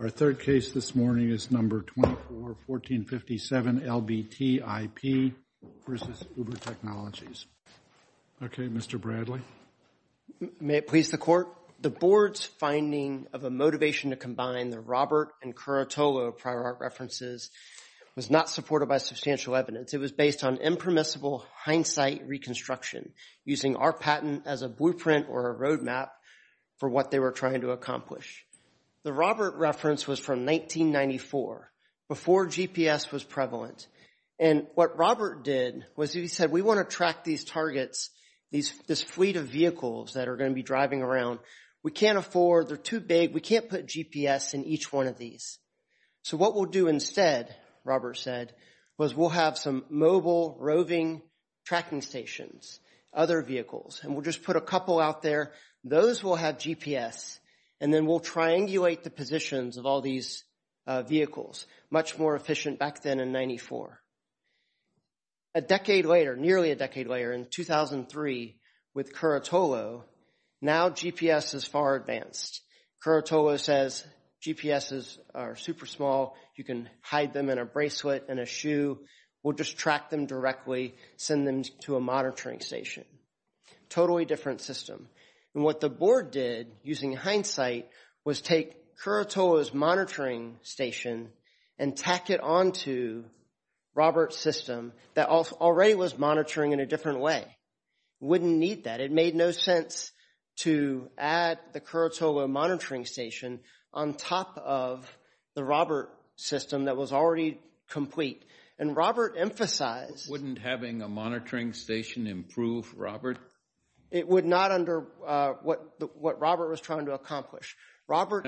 Our third case this morning is No. 24-1457 LBT IP v. Uber Technologies. Okay, Mr. Bradley. May it please the Court? The Board's finding of a motivation to combine the Robert and Curatolo prior art references was not supported by substantial evidence. It was based on impermissible hindsight reconstruction, using our patent as a blueprint or a roadmap for what they were trying to accomplish. The Robert reference was from 1994, before GPS was prevalent. And what Robert did was he said, we want to track these targets, this fleet of vehicles that are going to be driving around. We can't afford, they're too big, we can't put GPS in each one of these. So what we'll do instead, Robert said, was we'll have some mobile roving tracking stations, other vehicles, and we'll just put a couple out there. Those will have GPS, and then we'll triangulate the positions of all these vehicles. Much more efficient back then in 94. A decade later, nearly a decade later, in 2003, with Curatolo, now GPS is far advanced. Curatolo says GPSes are super small. You can hide them in a bracelet, in a shoe. We'll just track them directly, send them to a monitoring station. Totally different system. And what the board did, using hindsight, was take Curatolo's monitoring station and tack it on to Robert's system that already was monitoring in a different way. Wouldn't need that. It made no sense to add the Curatolo monitoring station on top of the Robert system that was already complete. And Robert emphasized. Wouldn't having a monitoring station improve Robert? It would not under what Robert was trying to accomplish. Robert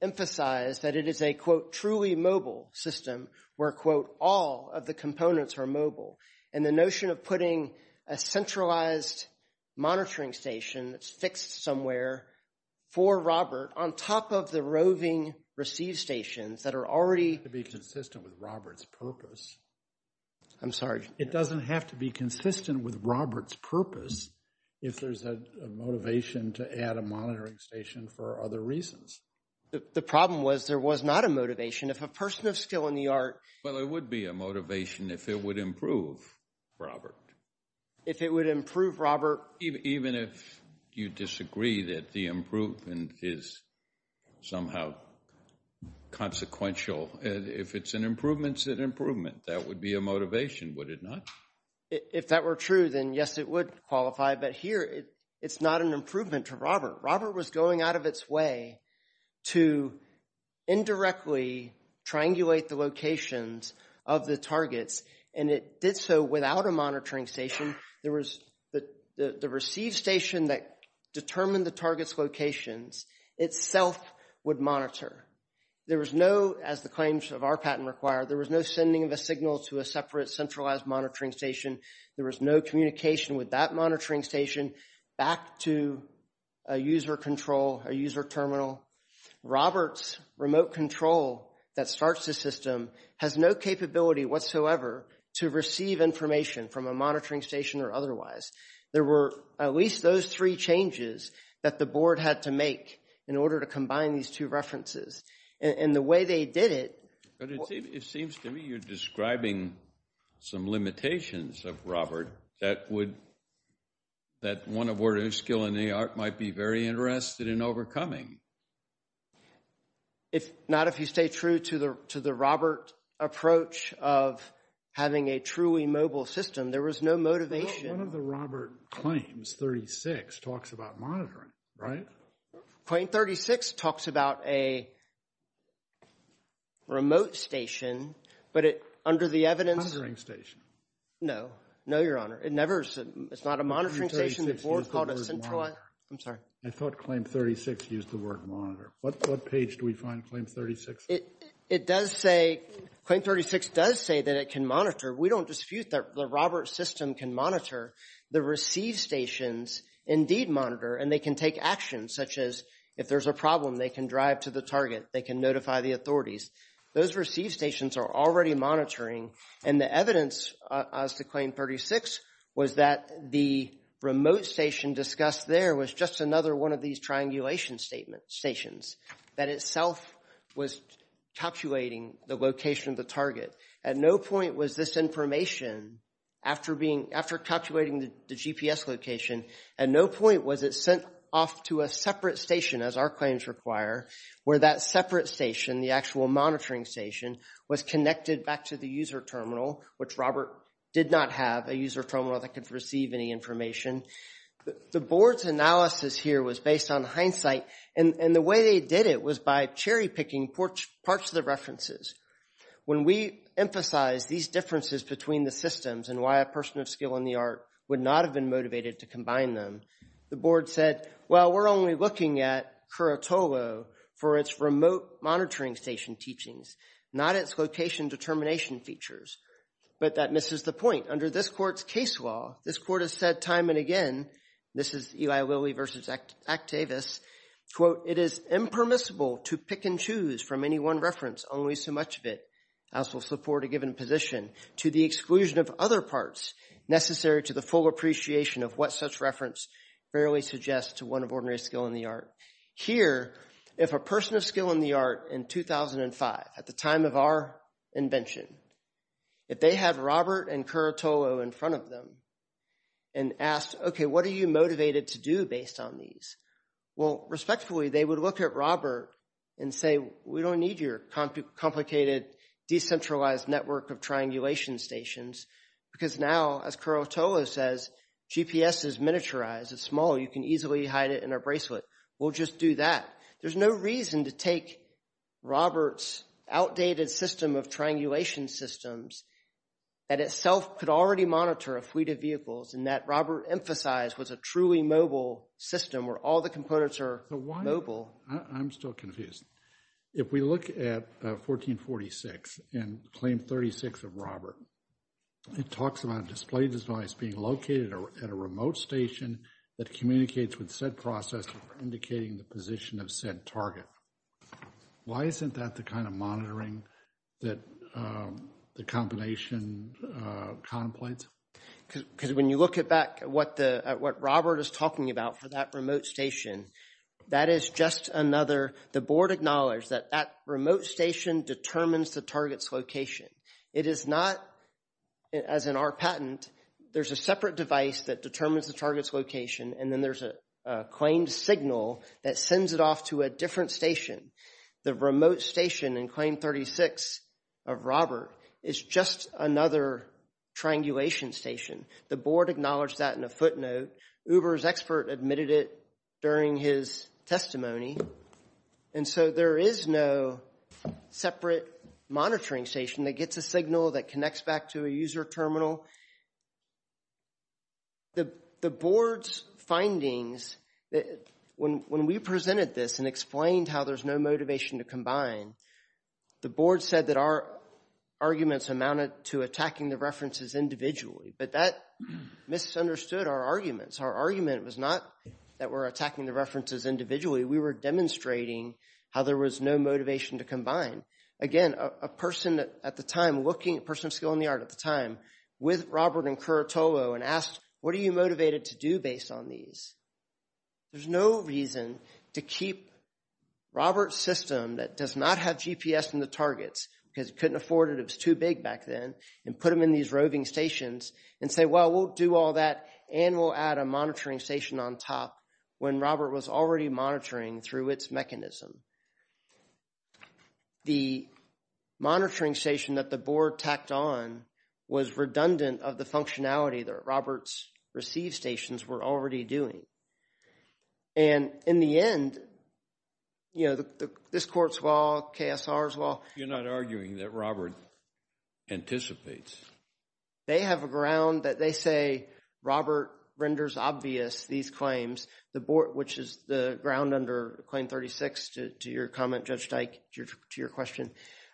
emphasized that it is a, quote, truly mobile system, where, quote, all of the components are mobile. And the notion of putting a centralized monitoring station that's fixed somewhere for Robert on top of the roving receive stations that are already. To be consistent with Robert's purpose. I'm sorry. It doesn't have to be consistent with Robert's purpose if there's a motivation to add a monitoring station for other reasons. The problem was there was not a motivation. If a person is still in the art. Well, it would be a motivation if it would improve Robert. If it would improve Robert. Even if you disagree that the improvement is somehow consequential. If it's an improvement, it's an improvement. That would be a motivation, would it not? If that were true, then yes, it would qualify. But here, it's not an improvement to Robert. Robert was going out of its way to indirectly triangulate the locations of the targets. And it did so without a monitoring station. There was the receive station that determined the target's locations itself would monitor. There was no, as the claims of our patent require, there was no sending of a signal to a separate centralized monitoring station. There was no communication with that monitoring station back to a user control, a user terminal. Robert's remote control that starts the system has no capability whatsoever to receive information from a monitoring station or otherwise. There were at least those three changes that the board had to make in order to combine these two references. And the way they did it. But it seems to me you're describing some limitations of Robert that would, that one of order of skill in the art might be very interested in overcoming. If not, if you stay true to the Robert approach of having a truly mobile system. There was no motivation. One of the Robert claims, 36, talks about monitoring, right? Claim 36 talks about a remote station. But it, under the evidence. Monitoring station. No. No, your honor. It never, it's not a monitoring station. The board called it centralized. I'm sorry. I thought claim 36 used the word monitor. What page do we find claim 36? It does say, claim 36 does say that it can monitor. We don't dispute that the Robert system can monitor the receive stations indeed monitor. And they can take action such as if there's a problem, they can drive to the target. They can notify the authorities. Those receive stations are already monitoring. And the evidence as to claim 36 was that the remote station discussed there was just another one of these triangulation stations. That itself was calculating the location of the target. At no point was this information, after being, after calculating the GPS location. At no point was it sent off to a separate station as our claims require. Where that separate station, the actual monitoring station, was connected back to the user terminal. Which Robert did not have a user terminal that could receive any information. The board's analysis here was based on hindsight. And the way they did it was by cherry picking parts of the references. When we emphasize these differences between the systems and why a person of skill and the art would not have been motivated to combine them. The board said, well, we're only looking at Curatolo for its remote monitoring station teachings. Not its location determination features. But that misses the point. Under this court's case law, this court has said time and again. This is Eli Lilly versus Actavis. Quote, it is impermissible to pick and choose from any one reference. Only so much of it as will support a given position. To the exclusion of other parts necessary to the full appreciation of what such reference rarely suggests to one of ordinary skill in the art. Here, if a person of skill in the art in 2005, at the time of our invention, if they had Robert and Curatolo in front of them and asked, okay, what are you motivated to do based on these? Well, respectfully, they would look at Robert and say, we don't need your complicated, decentralized network of triangulation stations. Because now, as Curatolo says, GPS is miniaturized. It's small. You can easily hide it in a bracelet. We'll just do that. There's no reason to take Robert's outdated system of triangulation systems that itself could already monitor a fleet of vehicles and that Robert emphasized was a truly mobile system where all the components are mobile. I'm still confused. If we look at 1446 and claim 36 of Robert, it talks about a display device being located at a remote station that communicates with said processor indicating the position of said target. Why isn't that the kind of monitoring that the combination contemplates? Because when you look at back at what Robert is talking about for that remote station, that is just another, the board acknowledged that that remote station determines the target's location. It is not, as in our patent, there's a separate device that determines the target's location and then there's a claimed signal that sends it off to a different station. The remote station in claim 36 of Robert is just another triangulation station. The board acknowledged that in a footnote. Uber's expert admitted it during his testimony. And so there is no separate monitoring station that gets a signal that connects back to a user terminal. The board's findings, when we presented this and explained how there's no motivation to combine, the board said that our arguments amounted to attacking the references individually. But that misunderstood our arguments. Our argument was not that we're attacking the references individually. We were demonstrating how there was no motivation to combine. Again, a person at the time looking, a person of skill in the art at the time, with Robert and Curatolo and asked, what are you motivated to do based on these? There's no reason to keep Robert's system that does not have GPS in the targets, because he couldn't afford it, it was too big back then, and put him in these roving stations and say, well, we'll do all that and we'll add a monitoring station on top when Robert was already monitoring through its mechanism. The monitoring station that the board tacked on was redundant of the functionality that Robert's receive stations were already doing. And in the end, you know, this court's law, KSR's law. You're not arguing that Robert anticipates. They have a ground that they say Robert renders obvious these claims. The board, which is the ground under Claim 36, to your comment, Judge Dyke, to your question,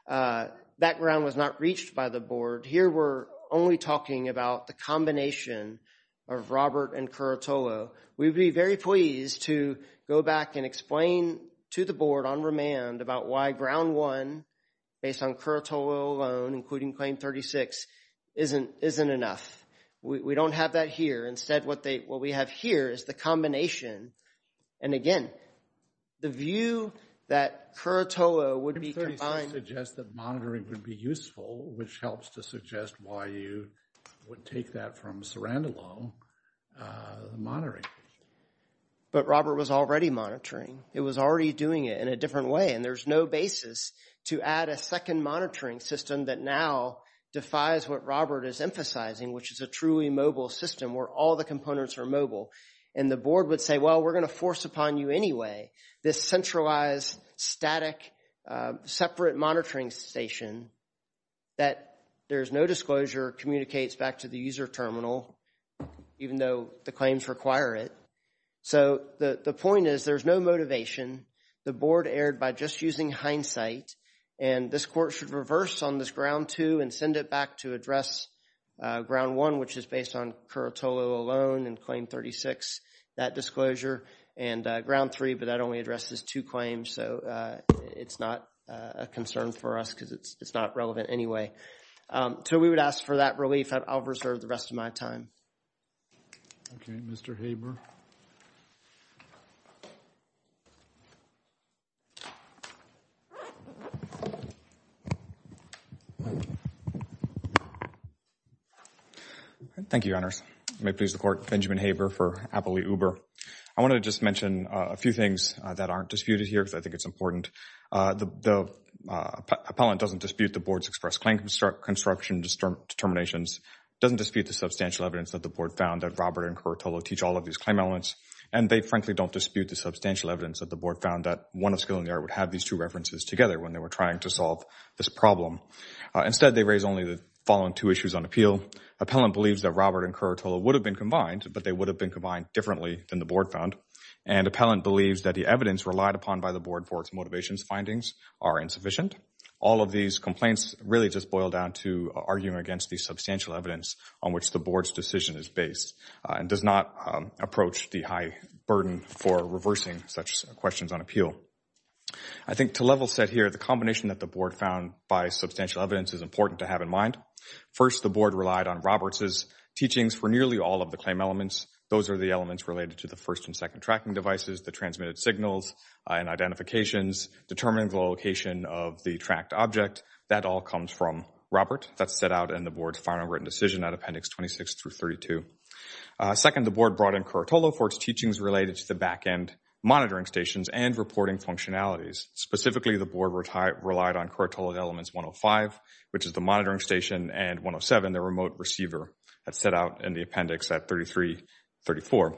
that ground was not reached by the board. Here we're only talking about the combination of Robert and Curatolo. We'd be very pleased to go back and explain to the board on remand about why ground one, based on Curatolo alone, including Claim 36, isn't enough. We don't have that here. Instead, what we have here is the combination. And again, the view that Curatolo would be combined. It suggests that monitoring would be useful, which helps to suggest why you would take that from Cerandolo, the monitoring. But Robert was already monitoring. It was already doing it in a different way. And there's no basis to add a second monitoring system that now defies what Robert is emphasizing, which is a truly mobile system where all the components are mobile. And the board would say, well, we're going to force upon you anyway. This centralized, static, separate monitoring station that there's no disclosure communicates back to the user terminal, even though the claims require it. So the point is there's no motivation. The board erred by just using hindsight. And this court should reverse on this ground two and send it back to address ground one, which is based on Curatolo alone and Claim 36, that disclosure. And ground three, but that only addresses two claims. So it's not a concern for us because it's not relevant anyway. So we would ask for that relief. I'll reserve the rest of my time. Okay. Mr. Haber. Thank you, Your Honors. May it please the court, Benjamin Haber for Appley Uber. I want to just mention a few things that aren't disputed here because I think it's important. The appellant doesn't dispute the board's express claim construction determinations, doesn't dispute the substantial evidence that the board found that Robert and Curatolo teach all of these claim elements. And they frankly don't dispute the substantial evidence that the board found that one of Skillinger would have these two references together when they were trying to solve this problem. Instead, they raise only the following two issues on appeal. Appellant believes that Robert and Curatolo would have been combined, but they would have been combined differently than the board found. And appellant believes that the evidence relied upon by the board for its motivations findings are insufficient. All of these complaints really just boil down to arguing against the substantial evidence on which the board's decision is based and does not approach the high burden for reversing such questions on appeal. I think to level set here, the combination that the board found by substantial evidence is important to have in mind. First, the board relied on Roberts' teachings for nearly all of the claim elements. Those are the elements related to the first and second tracking devices, the transmitted signals and identifications, determining the location of the tracked object. That all comes from Robert. That's set out in the board's final written decision at appendix 26 through 32. Second, the board brought in Curatolo for its teachings related to the backend monitoring stations and reporting functionalities. Specifically, the board relied on Curatolo elements 105, which is the monitoring station, and 107, the remote receiver, as set out in the appendix at 33-34.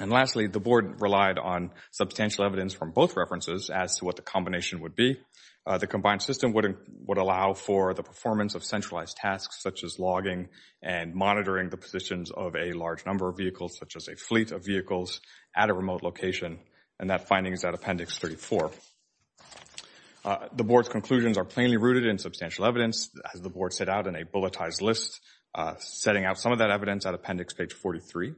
And lastly, the board relied on substantial evidence from both references as to what the combination would be. The combined system would allow for the performance of centralized tasks, such as logging and monitoring the positions of a large number of vehicles, such as a fleet of vehicles at a remote location. And that finding is at appendix 34. The board's conclusions are plainly rooted in substantial evidence, as the board set out in a bulletized list, setting out some of that evidence at appendix page 43.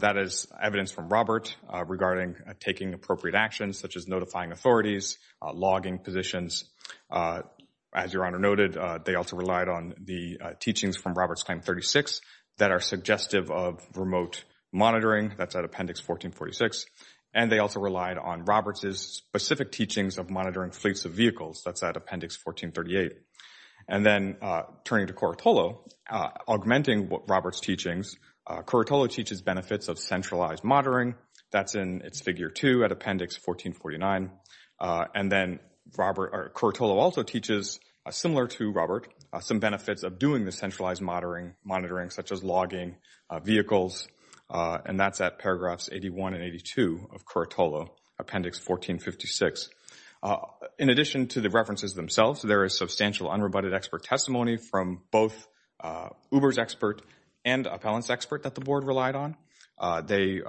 That is evidence from Robert regarding taking appropriate actions, such as notifying authorities, logging positions. As Your Honor noted, they also relied on the teachings from Robert's claim 36 that are suggestive of remote monitoring. That's at appendix 14-46. And they also relied on Robert's specific teachings of monitoring fleets of vehicles. That's at appendix 14-38. And then turning to Curatolo, augmenting Robert's teachings, Curatolo teaches benefits of centralized monitoring. That's in its figure 2 at appendix 14-49. And then Curatolo also teaches, similar to Robert, some benefits of doing the centralized monitoring, such as logging vehicles. And that's at paragraphs 81 and 82 of Curatolo, appendix 14-56. In addition to the references themselves, there is substantial unrebutted expert testimony from both Uber's expert and appellant's expert that the board relied on. They,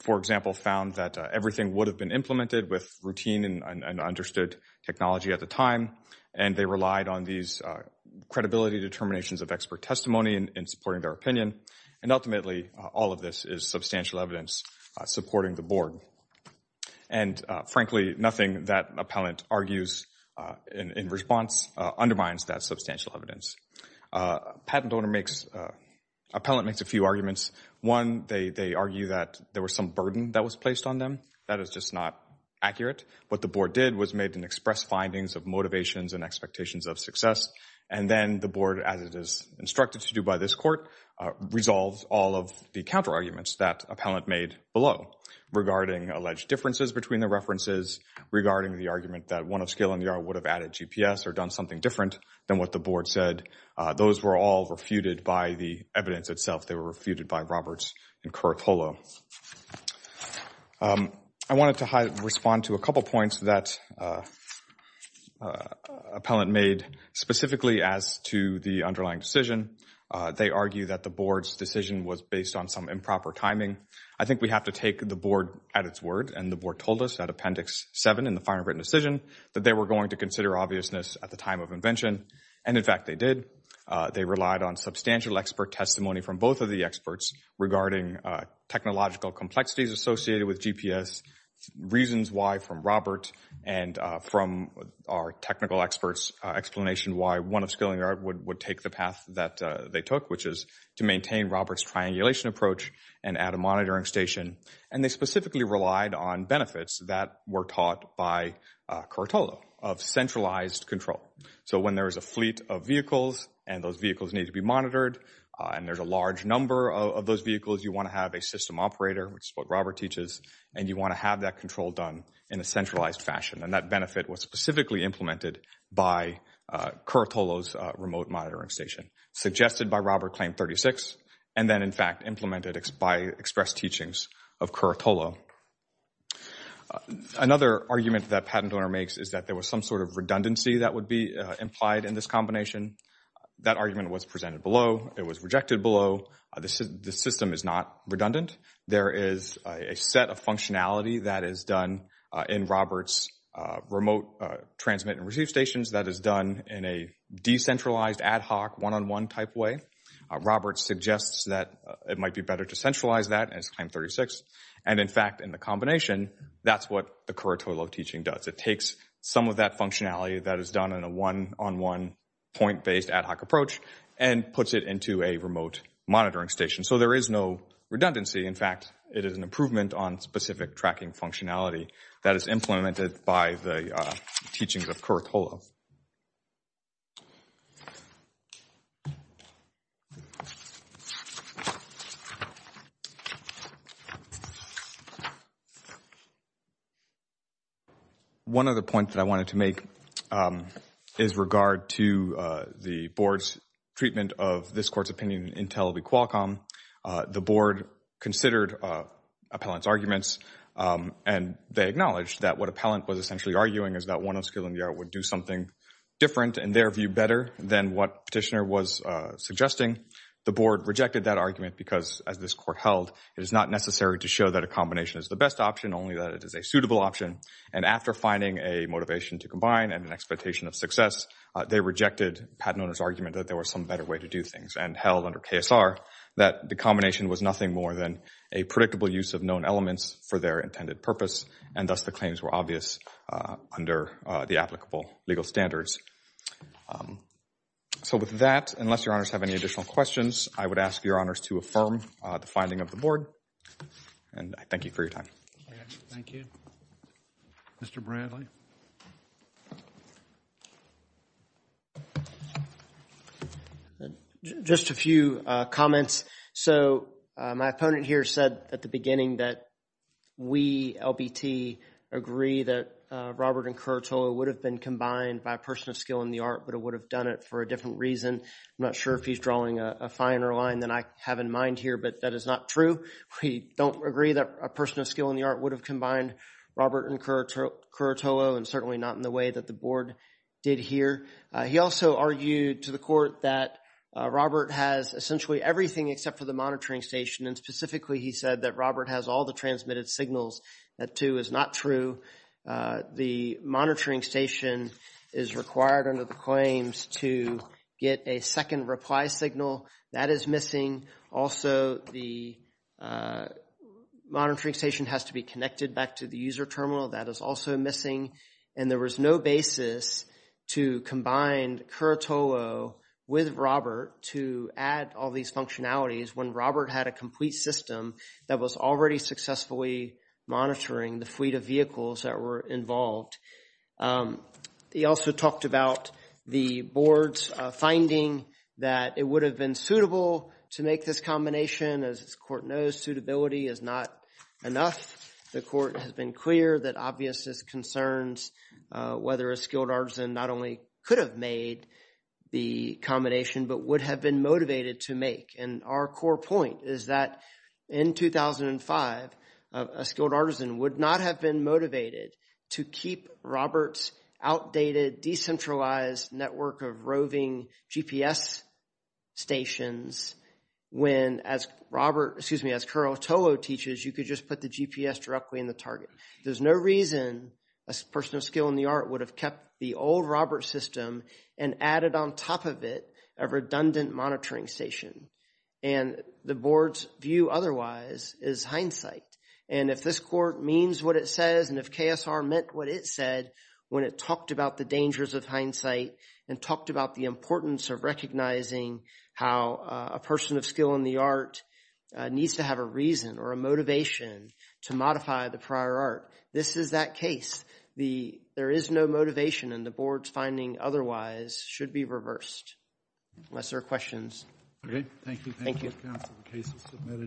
for example, found that everything would have been implemented with routine and understood technology at the time. And they relied on these credibility determinations of expert testimony in supporting their opinion. And ultimately, all of this is substantial evidence supporting the board. And frankly, nothing that appellant argues in response undermines that substantial evidence. Patent owner makes, appellant makes a few arguments. One, they argue that there was some burden that was placed on them. That is just not accurate. What the board did was made an express findings of motivations and expectations of success. And then the board, as it is instructed to do by this court, resolves all of the counterarguments that appellant made below regarding alleged differences between the references, regarding the argument that one of skill in the art would have added GPS or done something different than what the board said. Those were all refuted by the evidence itself. They were refuted by Roberts and Curatolo. I wanted to respond to a couple points that appellant made specifically as to the underlying decision. They argue that the board's decision was based on some improper timing. I think we have to take the board at its word. And the board told us at Appendix 7 in the final written decision that they were going to consider obviousness at the time of invention. And in fact, they did. They relied on substantial expert testimony from both of the experts regarding technological complexities associated with GPS, reasons why from Robert and from our technical experts, explanation why one of skill in the art would take the path that they took, which is to maintain Robert's triangulation approach and add a monitoring station. And they specifically relied on benefits that were taught by Curatolo of centralized control. So when there is a fleet of vehicles and those vehicles need to be monitored, and there's a large number of those vehicles, you want to have a system operator, which is what Robert teaches. And you want to have that control done in a centralized fashion. And that benefit was specifically implemented by Curatolo's remote monitoring station, suggested by Robert Claim 36, and then, in fact, implemented by express teachings of Curatolo. Another argument that PatentOwner makes is that there was some sort of redundancy that would be implied in this combination. That argument was presented below. It was rejected below. The system is not redundant. There is a set of functionality that is done in Robert's remote transmit and receive stations that is done in a decentralized ad hoc one-on-one type way. Robert suggests that it might be better to centralize that as Claim 36. And in fact, in the combination, that's what the Curatolo teaching does. It takes some of that functionality that is done in a one-on-one point-based ad hoc approach and puts it into a remote monitoring station. So there is no redundancy. In fact, it is an improvement on specific tracking functionality that is implemented by the teachings of Curatolo. One other point that I wanted to make is regard to the board's treatment of this court's opinion in Intel v. Qualcomm. The board considered Appellant's arguments and they acknowledged that what Appellant was essentially arguing is that one-on-one skill in the art would do something different in their view better than what Petitioner was suggesting. The board rejected that argument because, as this court held, it is not necessary to show that a combination is the best option, only that it is a suitable option. And after finding a motivation to combine and an expectation of success, they rejected Patinone's argument that there was some better way to do things and held under KSR that the combination was nothing more than a predictable use of known elements for their intended purpose and thus the claims were obvious under the applicable legal standards. So with that, unless your honors have any additional questions, I would ask your honors to affirm the finding of the board and I thank you for your time. Thank you. Mr. Bradley. Just a few comments. So my opponent here said at the beginning that we, LBT, agree that Robert and Curatolo would have been combined by a person of skill in the art, but it would have done it for a different reason. I'm not sure if he's drawing a finer line than I have in mind here, but that is not true. We don't agree that a person of skill in the art would have combined Robert and Curatolo and certainly not in the way that the board did here. He also argued to the court that Robert has essentially everything except for the monitoring station and specifically he said that Robert has all the transmitted signals. That too is not true. The monitoring station is required under the claims to get a second reply signal. That is missing. Also, the monitoring station has to be connected back to the user terminal. That is also missing and there was no basis to combine Curatolo with Robert to add all these functionalities when Robert had a complete system that was already successfully monitoring the fleet of vehicles that were involved. He also talked about the board's finding that it would have been suitable to make this combination. As this court knows, suitability is not enough. The court has been clear that obvious concerns whether a skilled artisan not only could have made the combination but would have been motivated to make. And our core point is that in 2005, a skilled artisan would not have been motivated to keep Robert's outdated decentralized network of roving GPS stations when as Robert, excuse me, could just put the GPS directly in the target. There's no reason a person of skill in the art would have kept the old Robert system and added on top of it a redundant monitoring station. And the board's view otherwise is hindsight. And if this court means what it says and if KSR meant what it said when it talked about the dangers of hindsight and talked about the importance of recognizing how a person of skill in the art needs to have a reason or a motivation to modify the prior art, this is that case. There is no motivation and the board's finding otherwise should be reversed. Unless there are questions. Okay, thank you. Thank you, counsel. The case is submitted.